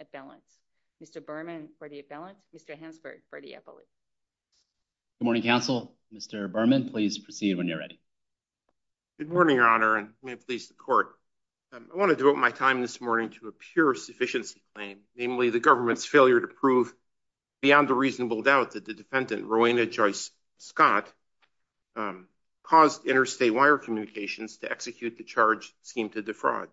Appellant. Mr. Berman for the appellant. Mr. Hansberg for the appellate. Good morning, counsel. Mr. Berman, please proceed when you're ready. Good morning, Your Honor, and may it please the Court. I want to devote my time this morning to a pure sufficiency claim, namely the government's failure to prove beyond a reasonable doubt that the defendant, Rowena Joyce Scott, caused the death of her husband, Mr. Hansberg. It caused interstate wire communications to execute the charge scheme to defraud.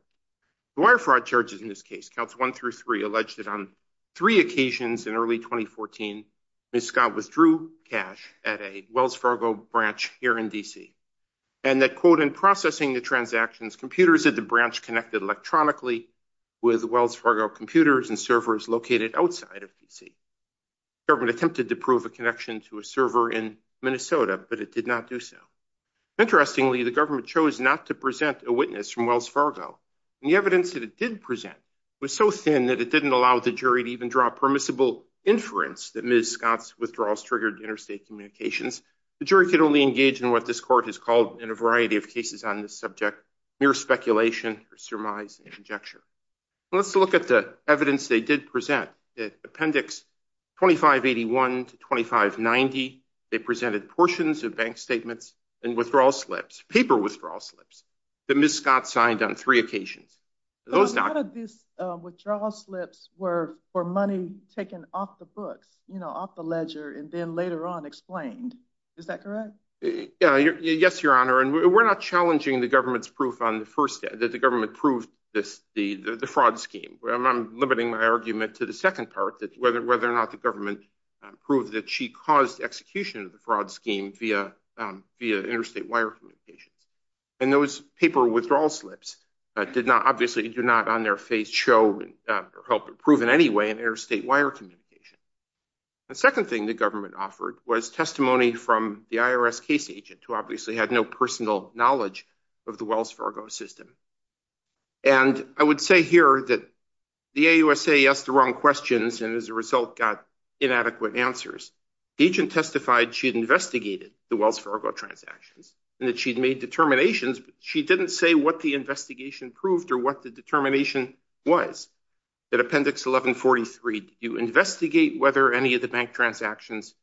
The wire fraud charges in this case, counts one through three, alleged that on three occasions in early 2014, Ms. Scott withdrew cash at a Wells Fargo branch here in D.C., and that, quote, in processing the transactions, computers at the branch connected electronically with Wells Fargo computers and servers located outside of D.C. The government attempted to prove a connection to a server in Minnesota, but it did not do so. Interestingly, the government chose not to present a witness from Wells Fargo, and the evidence that it did present was so thin that it didn't allow the jury to even draw a permissible inference that Ms. Scott's withdrawals triggered interstate communications. The jury could only engage in what this Court has called, in a variety of cases on this subject, mere speculation or surmise and conjecture. Let's look at the evidence they did present. Appendix 2581 to 2590, they presented portions of bank statements and withdrawal slips, paper withdrawal slips, that Ms. Scott signed on three occasions. A lot of these withdrawal slips were for money taken off the books, you know, off the ledger, and then later on explained. Is that correct? Yes, Your Honor, and we're not challenging the government's proof on the first the fraud scheme. I'm limiting my argument to the second part, whether or not the government proved that she caused execution of the fraud scheme via interstate wire communications. And those paper withdrawal slips obviously do not on their face show or help prove in any way an interstate wire communication. The second thing the government offered was testimony from the IRS case agent, who obviously had no personal knowledge of the Wells Fargo system. And I would say here that the AUSA asked the wrong questions and as a result got inadequate answers. The agent testified she had investigated the Wells Fargo transactions and that she'd made determinations, but she didn't say what the investigation proved or what the determination was. In Appendix 1143, you investigate whether any of the bank transactions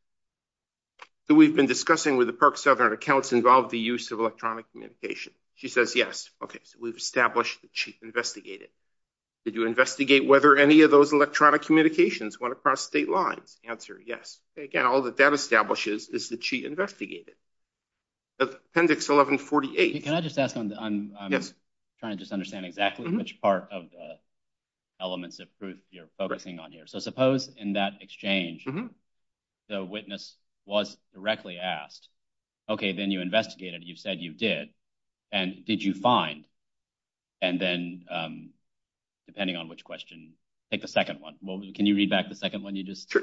that we've been discussing with the Park Southern accounts involved the use of electronic communication. She says yes. Okay, so we've established that she investigated. Did you investigate whether any of those electronic communications went across state lines? Answer, yes. Again, all that that establishes is that she investigated. Appendix 1148. Can I just ask, I'm trying to just understand exactly which part of the elements of proof you're focusing on here. So suppose in that exchange the witness was directly asked, okay, then you investigated, you said you did, and did you find and then, depending on which question, take the second one. Can you read back the second one?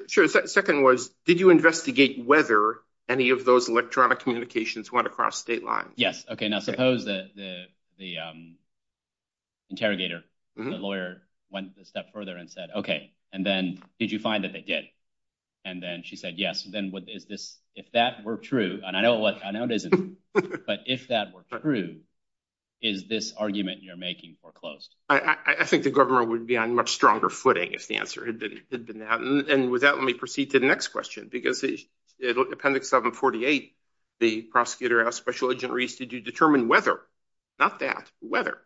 Sure, the second one was did you investigate whether any of those electronic communications went across state lines? Yes. Okay, now suppose the interrogator, the lawyer, went a step further and said, okay, and then did you find that they did? And then she said yes. If that were true, and I know it isn't, but if that were true, is this argument you're making foreclosed? I think the government would be on much stronger footing if the answer had been that. And with that, let me proceed to the next question, because Appendix 748, the prosecutor asked Special Agent Reese, did you determine whether, not that, whether,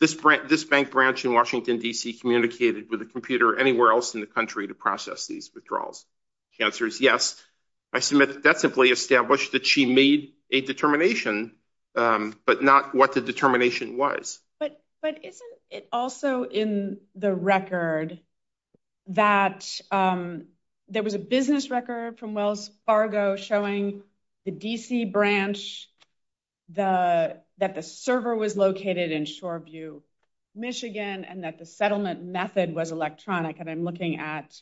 this bank branch in Washington, D.C. communicated with a computer anywhere else in the country to process these withdrawals? The answer is yes. I submit that that's simply established that she made a determination, but not what the determination was. But isn't it also in the record that there was a business record from Wells Fargo showing the D.C. branch, that the server was located in Shoreview, Michigan, and that the settlement method was electronic, and I'm looking at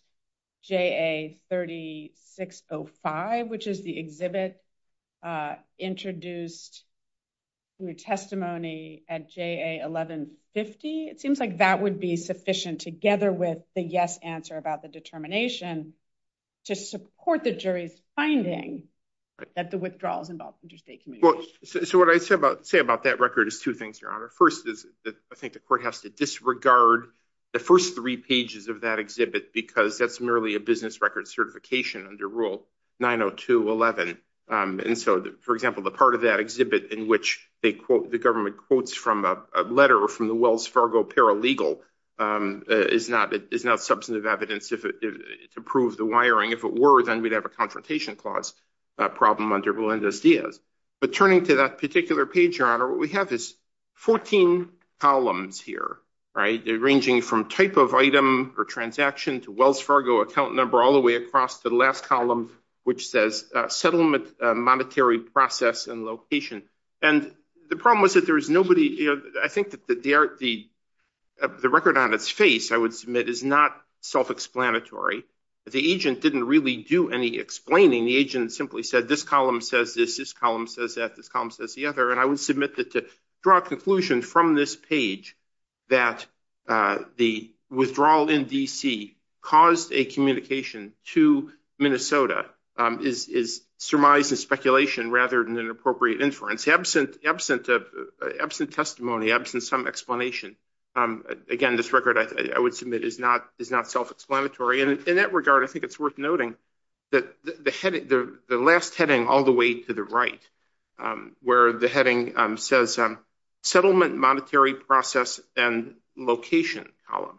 J.A. 3605, which is the exhibit introduced in the testimony at J.A. 1150. It seems like that would be sufficient, together with the yes answer about the determination, to support the jury's finding that the withdrawals involved interstate communication. So what I say about that record is two things, Your Honor. First is that I think the court has to disregard the first three pages of that exhibit because that's merely a business record certification under Rule 902.11. For example, the part of that exhibit in which the government quotes from a letter from the Wells Fargo paralegal is not substantive evidence to prove the wiring. If it were, then we'd have a confrontation clause problem under Belendez-Diaz. But turning to that particular page, Your Honor, what we have is 14 columns here, ranging from type of item or transaction to Wells Fargo account number all the way across to the last column which says settlement monetary process and location. And the problem was that there was nobody, I think that the record on its face, I would submit, is not self-explanatory. The agent didn't really do any explaining. The agent simply said this column says this, this column says that, this column says the other, and I would submit that to draw a conclusion from this page that the withdrawal in D.C. caused a communication to Minnesota is surmise and speculation rather than an appropriate inference. Absent testimony, absent some explanation, again, this record, I would submit, is not self-explanatory. And in that regard, I think it's worth noting that the last heading all the way to the right where the heading says settlement monetary process and location column.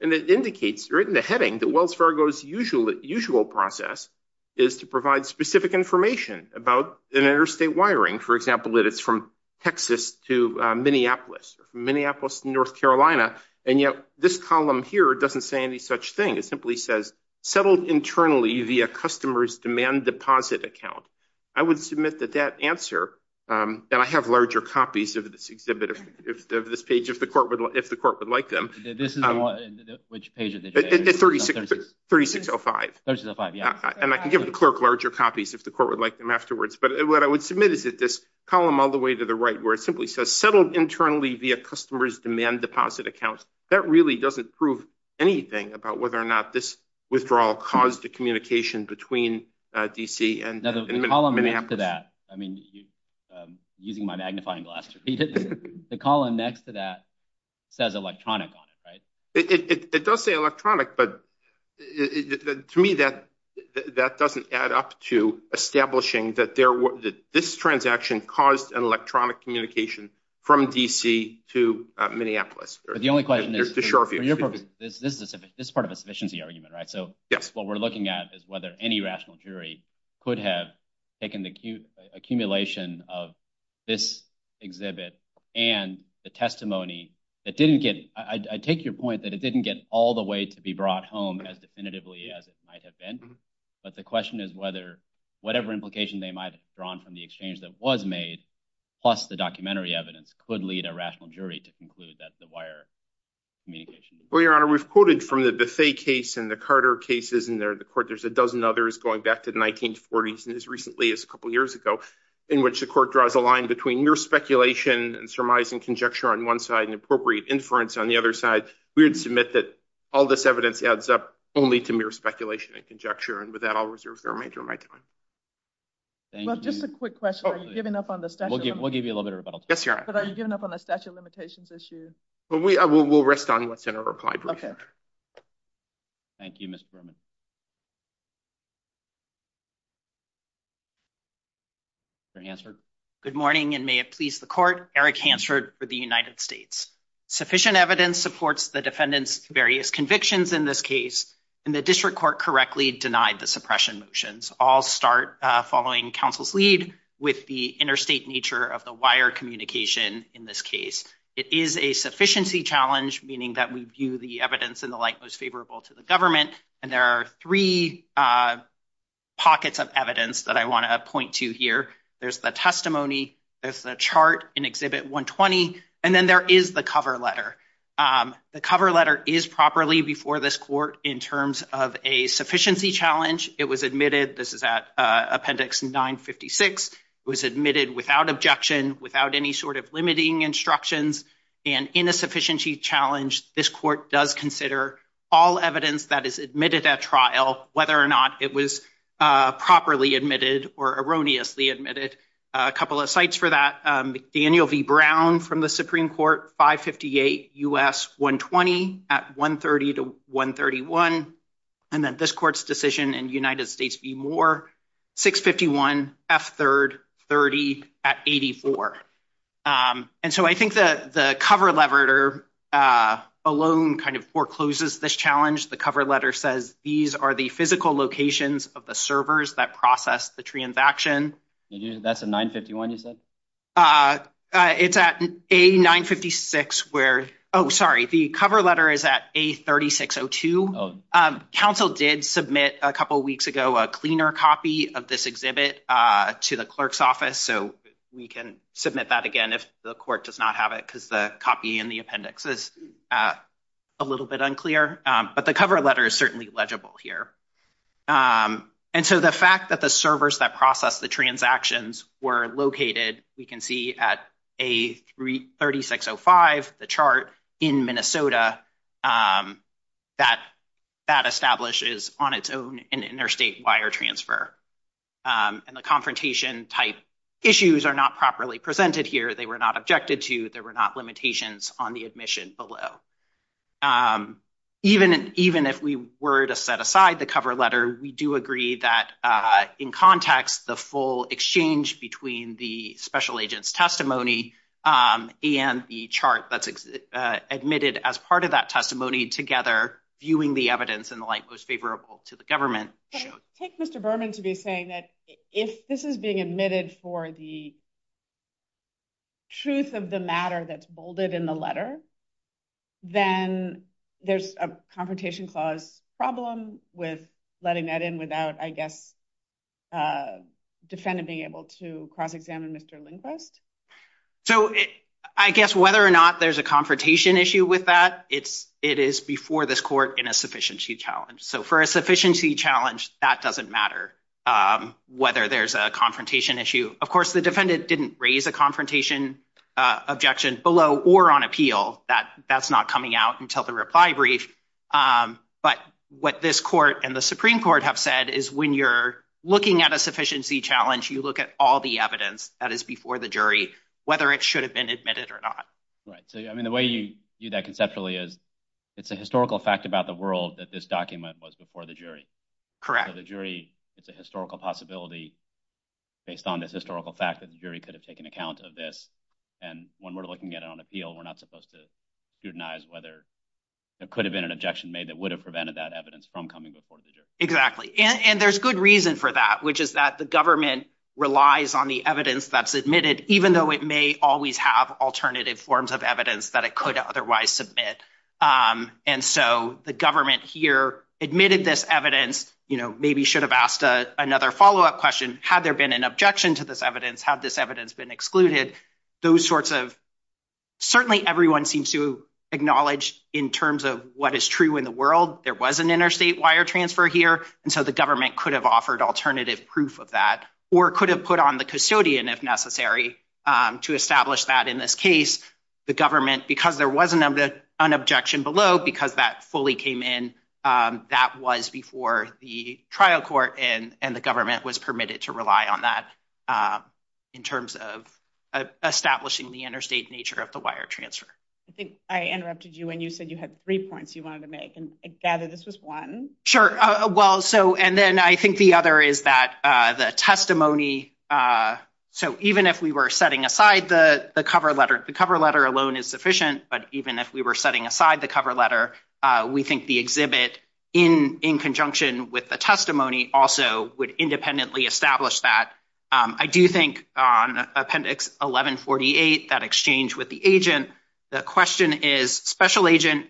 And it indicates right in the heading that Wells Fargo's usual process is to provide specific information about an interstate wiring, for example, that it's from Texas to Minneapolis, or from Minneapolis to North Carolina, and yet this column here doesn't say any such thing. It simply says settled internally via customer's demand deposit account. I would submit that that answer, and I have larger copies of this exhibit, of this page, if the court would like them. This is the one, which page is it? 3605. 3605, yeah. And I can give the clerk larger copies if the court would like them afterwards. But what I would submit is that this column all the way to the right where it simply says settled internally via customer's demand deposit account, that really doesn't prove anything about whether or not this withdrawal caused a communication between D.C. and Minneapolis. Now the column next to that, I mean, using my magnifying glass to read it, the column next to that says electronic on it, right? It does say electronic, but to me that doesn't add up to establishing that this transaction caused an electronic communication from D.C. to Minneapolis. But the only question is, this is part of a sufficiency argument, right? So what we're looking at is whether any rational jury could have taken the accumulation of this exhibit and the testimony that didn't get, I take your point that it didn't get all the way to be brought home as definitively as it might have been, but the question is whether whatever implication they might have drawn from the exchange that was made, plus the documentary evidence, could lead a rational jury to conclude that the wire communication... Well, Your Honor, we've quoted from the Bethea case and the Carter cases, and there's a dozen others going back to the 1940s and as recently as a couple years ago, in which the court draws a line between mere speculation and surmise and conjecture on one side and appropriate inference on the other side. We would submit that all this evidence adds up only to mere speculation and conjecture, and with that I'll reserve the remainder of my time. Thank you. Well, just a quick question. Are you giving up on the statute of limitations? We'll give you a little bit of rebuttal. Yes, Your Honor. But are you giving up on the statute of limitations issue? We'll rest on what's in our reply brief. Thank you, Mr. Berman. Mr. Hansford. Good morning, and may it please the court. Eric Hansford for the United States. Sufficient evidence supports the defendant's various convictions in this case, and the district court correctly denied the suppression motions. I'll start following counsel's lead with the interstate nature of the wire communication in this case. It is a sufficiency challenge, meaning that we view the evidence in the light most favorable to the government, and there are three pockets of evidence that I want to point to here. There's the testimony, there's the chart in Exhibit 120, and then there is the cover letter. The cover letter is properly before this court in terms of a sufficiency challenge. It was admitted, this is at Appendix 956, it was admitted without objection, without any sort of limiting instructions, and in a sufficiency challenge, this court does consider all evidence that is admitted at trial, whether or not it was properly admitted or erroneously admitted. A couple of sites for that. Daniel V. Brown from the Supreme Court, 558 U.S. 120 at 130 to 131, and then this court's decision in United States v. Moore, 651 F3rd 30 at 84. And so I think the cover letter alone forecloses this challenge. The cover letter says these are the physical locations of the servers that process the transaction. That's at 951 you said? It's at A956 where, oh sorry, the cover letter is at A3602. Council did submit a couple weeks ago a minor copy of this exhibit to the clerk's office, so we can submit that again if the court does not have it because the copy in the appendix is a little bit unclear. But the cover letter is certainly legible here. And so the fact that the servers that process the transactions were located, we can see at A3605, the chart, in Minnesota, that establishes on its own an interstate wire transfer. And the confrontation type issues are not properly presented here. They were not objected to. There were not limitations on the admission below. Even if we were to set aside the cover letter, we do agree that in context, the full exchange between the special agent's testimony and the chart that's admitted as part of that testimony together viewing the evidence in the light most favorable to the government. Take Mr. Berman to be saying that if this is being admitted for the truth of the matter that's bolded in the letter, then there's a confrontation clause problem with letting that in without, I guess, defendant being able to cross-examine Mr. Lindquist? So I guess whether or not there's a confrontation issue with that, it is before this court in a sufficiency challenge. So for a sufficiency challenge, that doesn't matter whether there's a confrontation issue. Of course, the defendant didn't raise a confrontation objection below or on appeal. That's not coming out until the reply brief. But what this court and the Supreme Court have said is when you're looking at a sufficiency challenge, you look at all the evidence that is before the jury, whether it should have been admitted or not. Right. So, I mean, the way you do that conceptually is it's a historical fact about the world that this document was before the jury. Correct. It's a historical possibility based on this historical fact that the jury could have taken account of this. And when we're looking at it on appeal, we're not supposed to scrutinize whether there could have been an objection made that would have prevented that evidence from coming before the jury. Exactly. And there's good reason for that, which is that the government relies on the evidence that's admitted, even though it may always have alternative forms of evidence that it could otherwise submit. And so the government here admitted this evidence, you know, maybe should have asked another follow-up question. Had there been an objection to this evidence? Had this evidence been excluded? Those sorts of certainly everyone seems to acknowledge in terms of what is true in the world. There was an interstate wire transfer here. And so the government could have offered alternative proof of that or could have put on the custodian if necessary to establish that in this case. The government, because there was an objection below, because that fully came in, that was before the trial court and the government was permitted to rely on that in terms of establishing the interstate nature of the wire transfer. I think I interrupted you when you said you had three points you wanted to make and I gather this was one. Sure. Well, so and then I think the other is that the testimony, so even if we were setting aside the cover letter, the cover letter alone is sufficient, but even if we were setting aside the cover letter, we think the exhibit in conjunction with the testimony also would independently establish that. I do think on Appendix 1148, that exchange with the agent, the question is, Special Agent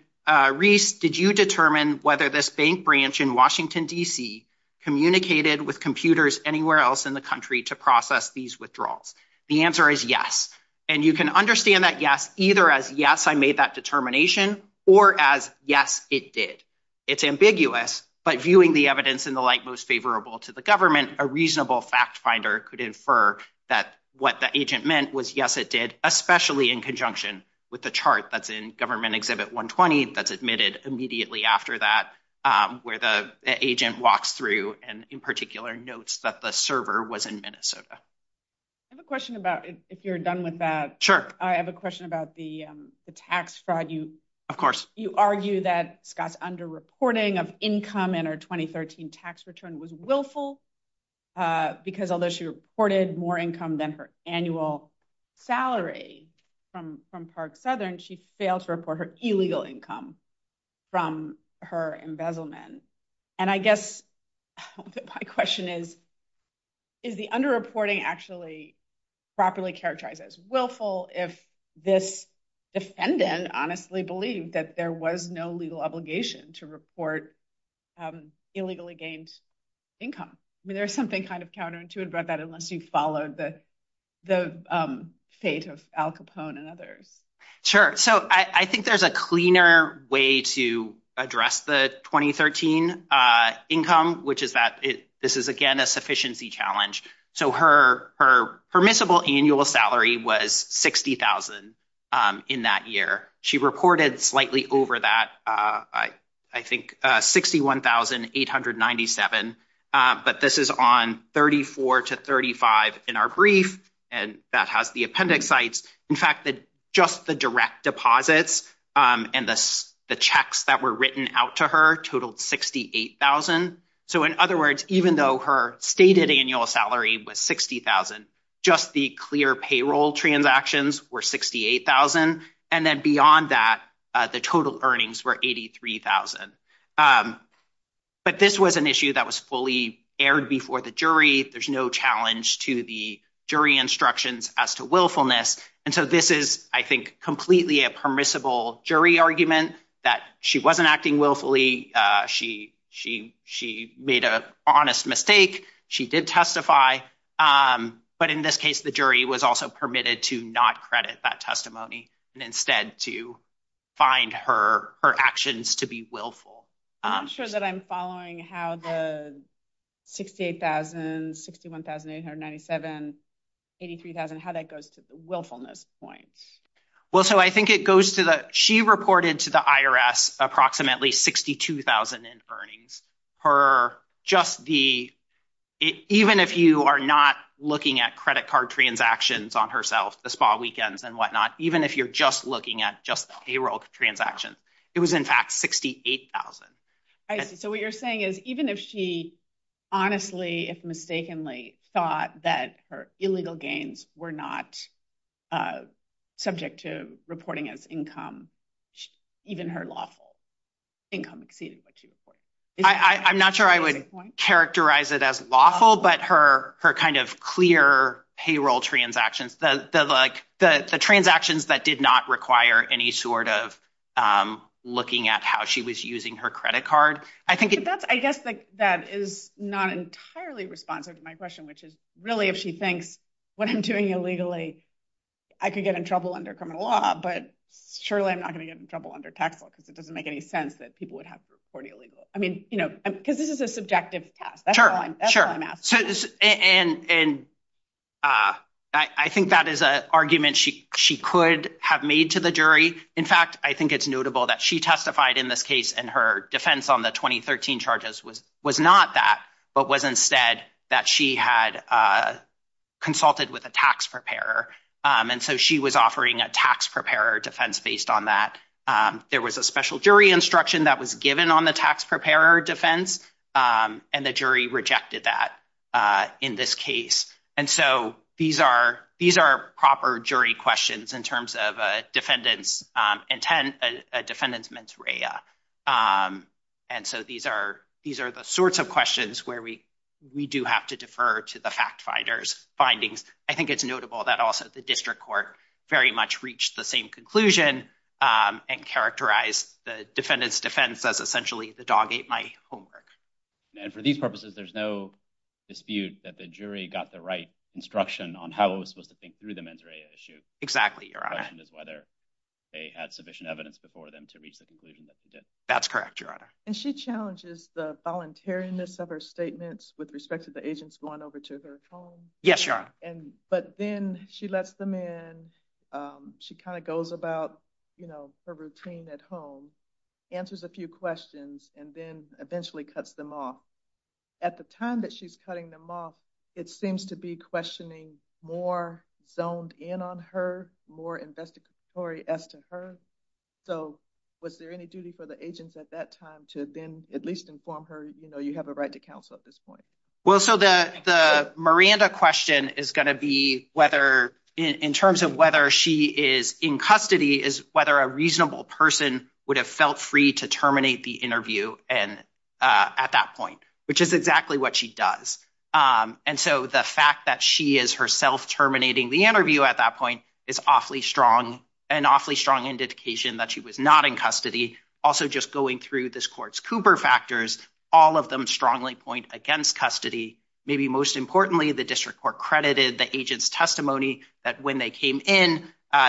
Reese, did you determine whether this bank branch in Washington, D.C. communicated with computers anywhere else in the country to process these withdrawals? The answer is yes. And you can understand that yes either as yes, I made that determination or as yes, it did. It's ambiguous, but viewing the evidence in the light most favorable to the government, a reasonable fact finder could infer that what the agent meant was yes, it did, especially in conjunction with the chart that's in Government Exhibit 120 that's admitted immediately after that where the agent walks through and in particular notes that the server was in Minnesota. I have a question about, if you're done with that. Sure. I have a question about the tax fraud. Of course. You argue that Scott's under-reporting of income in her 2013 tax return was willful because although she reported more income than her annual salary from Park Southern, she failed to report her illegal income from her embezzlement. And I guess my question is, is the under-reporting actually properly characterized as willful if this defendant honestly believed that there was no legal obligation to report illegally gained income? I mean, there's something kind of counterintuitive about that unless you followed the fate of Al Capone and others. Sure. So I think there's a cleaner way to address the 2013 income, which is that this is again a sufficiency challenge. So her permissible annual salary was $60,000 in that year. She reported slightly over that, I think $61,897. But this is on 34 to 35 in our brief and that has the appendix sites. In fact, just the direct deposits and the checks that were written out to her totaled $68,000. So in other words, even though her stated annual salary was $60,000, just the clear payroll transactions were $68,000. And then beyond that the total earnings were $83,000. But this was an issue that was fully aired before the jury. There's no challenge to the jury instructions as to willfulness. And so this is, I think, completely a permissible jury argument that she wasn't acting willfully. She made an honest mistake. She did testify. But in this case, the jury was also permitted to not credit that testimony and instead to find her actions to be willful. I'm not sure that I'm following how the $68,000, $61,897, $83,000, how that goes to the willfulness point. She reported to the IRS approximately $62,000 in earnings. Even if you are not looking at credit card transactions on herself, the spa weekends and whatnot, even if you're just looking at just the payroll transactions, it was in fact $68,000. I see. So what you're saying is even if she honestly, if mistakenly, thought that her illegal gains were not subject to reporting as income, even her lawful income exceeded what she reported. I'm not sure I would characterize it as lawful, but her kind of clear payroll transactions, the transactions that did not require any sort of looking at how she was using her credit card. I guess that is not entirely responsive to my question, which is really if she thinks what I'm doing illegally, I could get in trouble under criminal law, but surely I'm not going to get in trouble under tax law because it doesn't make any sense that people would have to report illegally. Because this is a subjective test. That's why I'm asking. I think that is an argument she could have made to the jury. In fact, I think it's notable that she testified in this case and her defense on the 2013 charges was not that, but was instead that she had consulted with a tax preparer. And so she was offering a tax preparer defense based on that. There was a special jury instruction that was given on the tax preparer defense, and the jury rejected that in this case. And so these are proper jury questions in terms of a defendant's mens rea. And so these are the sorts of questions where we do have to defer to the fact-finders findings. I think it's notable that also the district court very much reached the same conclusion and characterized the defendant's defense as essentially the dog ate my homework. And for these purposes, there's no dispute that the jury got the right instruction on how it was supposed to think through the mens rea issue. The question is whether they had sufficient evidence before them to reach the conclusion that they did. And she challenges the voluntariness of her statements with respect to the agents going over to her home. But then she lets them in. She kind of goes about her routine at home, answers a few questions, and then eventually cuts them off. At the time that she's cutting them off, it seems to be questioning more zoned in on her, more investigatory as to her. So was there any duty for the agents at that time to then at least inform her, you know, you have a right to counsel at this point? Well, so the Miranda question is going to be whether, in terms of whether she is in custody, is whether a reasonable person would have felt free to terminate the interview at that point, which is exactly what she does. And so the fact that she is herself terminating the interview at that point is awfully strong, an awfully strong indication that she was not in custody. Also, just going through this court's Cooper factors, all of them strongly point against custody. Maybe most importantly, the district court credited the agent's testimony that when they came in,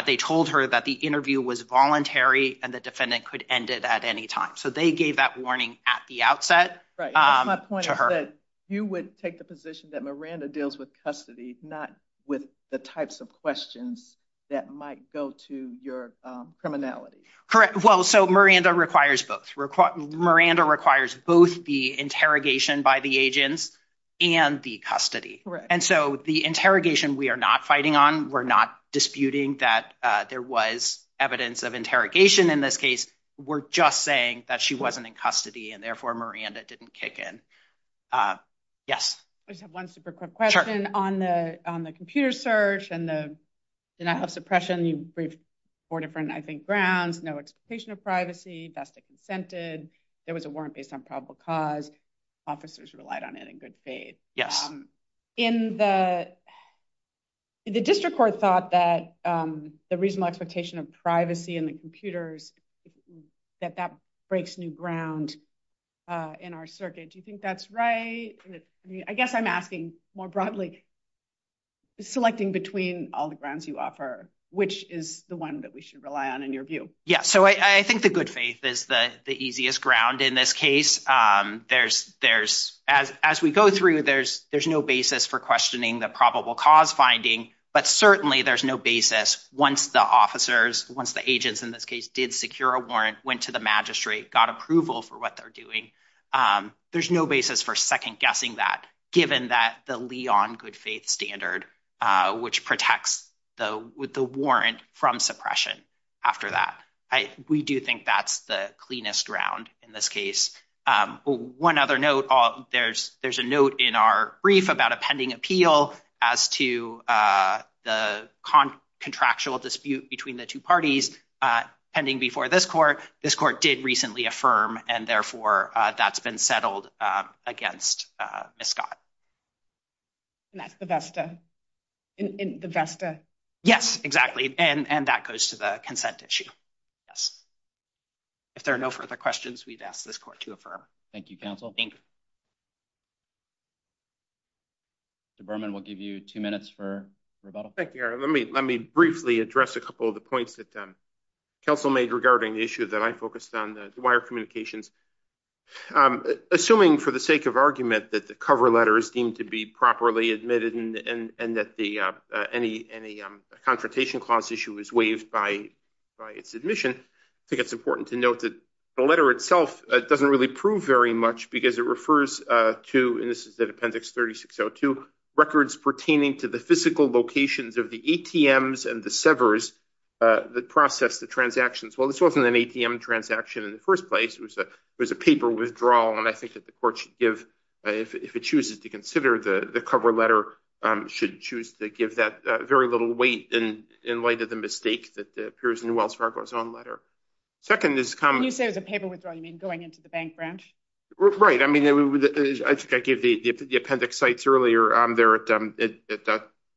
they told her that the interview was voluntary and the defendant could end it at any time. So they gave that warning at the outset to her. You would take the position that Miranda deals with custody, not with the types of questions that might go to your criminality. Correct. Well, so Miranda requires both. Miranda requires both the interrogation by the agents and the custody. And so the interrogation we are not fighting on, we're not disputing that there was evidence of interrogation in this case. We're just saying that she wasn't in custody and therefore Miranda didn't kick in. Yes. I just have one super quick question. Sure. On the computer search and the denial of suppression, you briefed four different, I think, grounds, no expectation of privacy, best of consented, there was a warrant based on probable cause, officers relied on it in good faith. Yes. In the, the district court thought that the reasonable expectation of privacy in the computers that that breaks new ground in our circuit. Do you think that's right? I mean, I guess I'm asking more broadly selecting between all the grounds you offer, which is the one that we should rely on in your view? Yes. So I think the good faith is the easiest ground in this case. There's as we go through, there's no basis for questioning the probable cause finding, but certainly there's no basis once the officers, once the agents in this case did secure a warrant, went to the magistrate, got approval for what they're doing. There's no basis for second guessing that given that the Leon good faith standard, which protects the warrant from suppression after that. We do think that's the cleanest ground in this case. One other note, there's a note in our brief about a pending appeal as to the contractual dispute between the two parties pending before this court, this court did recently affirm and therefore that's been settled against Scott. The Vesta in the Vesta. Yes, exactly. And that goes to the consent issue. Yes. If there are no further questions, we've asked this court to affirm. Thank you. Council. The Berman will give you two minutes for rebuttal. Thank you. Let me briefly address a couple of the points that council made regarding the issue that I focused on the wire communications. Assuming for the sake of argument that the cover letter is deemed to be properly admitted and that the confrontation clause issue is waived by its admission, I think it's important to note that the letter itself doesn't really prove very much because it refers to, and this is the appendix 36. So two records pertaining to the physical locations of the ATMs and the severs that process the transactions. Well, this wasn't an ATM transaction in the first place. It was a paper withdrawal, and I think that the court should give, if it chooses to consider the cover letter, should choose to give that very little weight in light of the mistake that appears in Wells Fargo's own letter. Second is When you say it was a paper withdrawal, you mean going into the bank branch? Right. I think I gave the appendix sites earlier.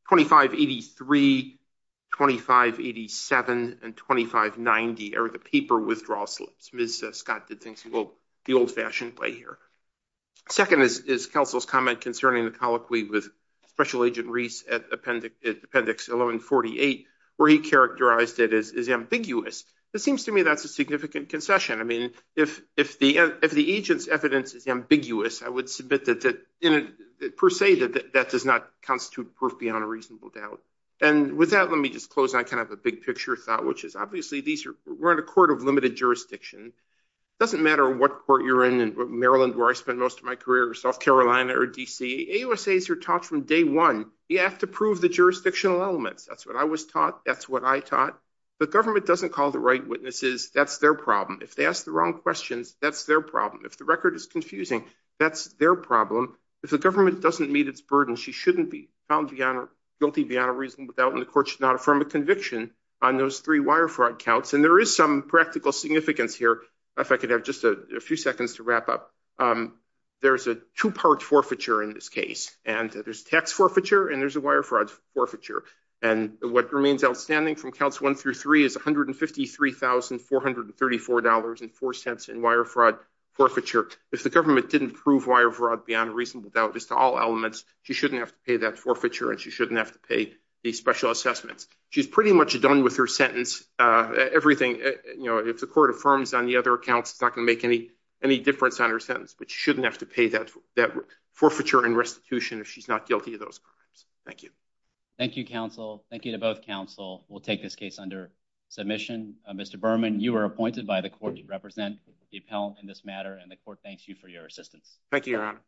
2583, 2587, and 2590 are the paper withdrawal slips. Ms. Scott did things the old-fashioned way here. Second is council's comment concerning the colloquy with special agent Reese at appendix 1148 where he characterized it as ambiguous. It seems to me that's a significant concession. I mean, if the agent's evidence is ambiguous, I would submit that, per se, that that does not constitute proof beyond a reasonable doubt. And with that, let me just close. I kind of have a big picture thought, which is, obviously, we're in a court of limited jurisdiction. It doesn't matter what court you're in. In Maryland, where I spent most of my career, or South Carolina, or D.C., AUSAs are taught from day one. You have to prove the jurisdictional elements. That's what I was taught. That's what I taught. The government doesn't call the right witnesses. That's their problem. If they ask the wrong questions, that's their problem. If the record is confusing, that's their problem. If the government doesn't meet its burden, she shouldn't be found guilty beyond a reasonable doubt, and the court should not affirm a conviction on those three wire fraud counts. And there is some practical significance here. If I could have just a few seconds to wrap up. There's a two-part forfeiture in this case. And there's tax forfeiture, and there's a wire fraud forfeiture. And what remains outstanding from counts one through three is $153,434.04 in wire fraud forfeiture. If the government didn't prove wire fraud beyond a reasonable doubt as to all elements, she shouldn't have to pay that forfeiture and she shouldn't have to pay the special assessments. She's pretty much done with her sentence. If the court affirms on the other accounts, it's not going to make any difference on her sentence. But she shouldn't have to pay that forfeiture and restitution if she's not guilty of those crimes. Thank you. Thank you, counsel. Thank you to both counsel. We'll take this case under submission. Mr. Berman, you are appointed by the court to represent the appellant in this matter, and the court thanks you for your assistance. Thank you, Your Honor.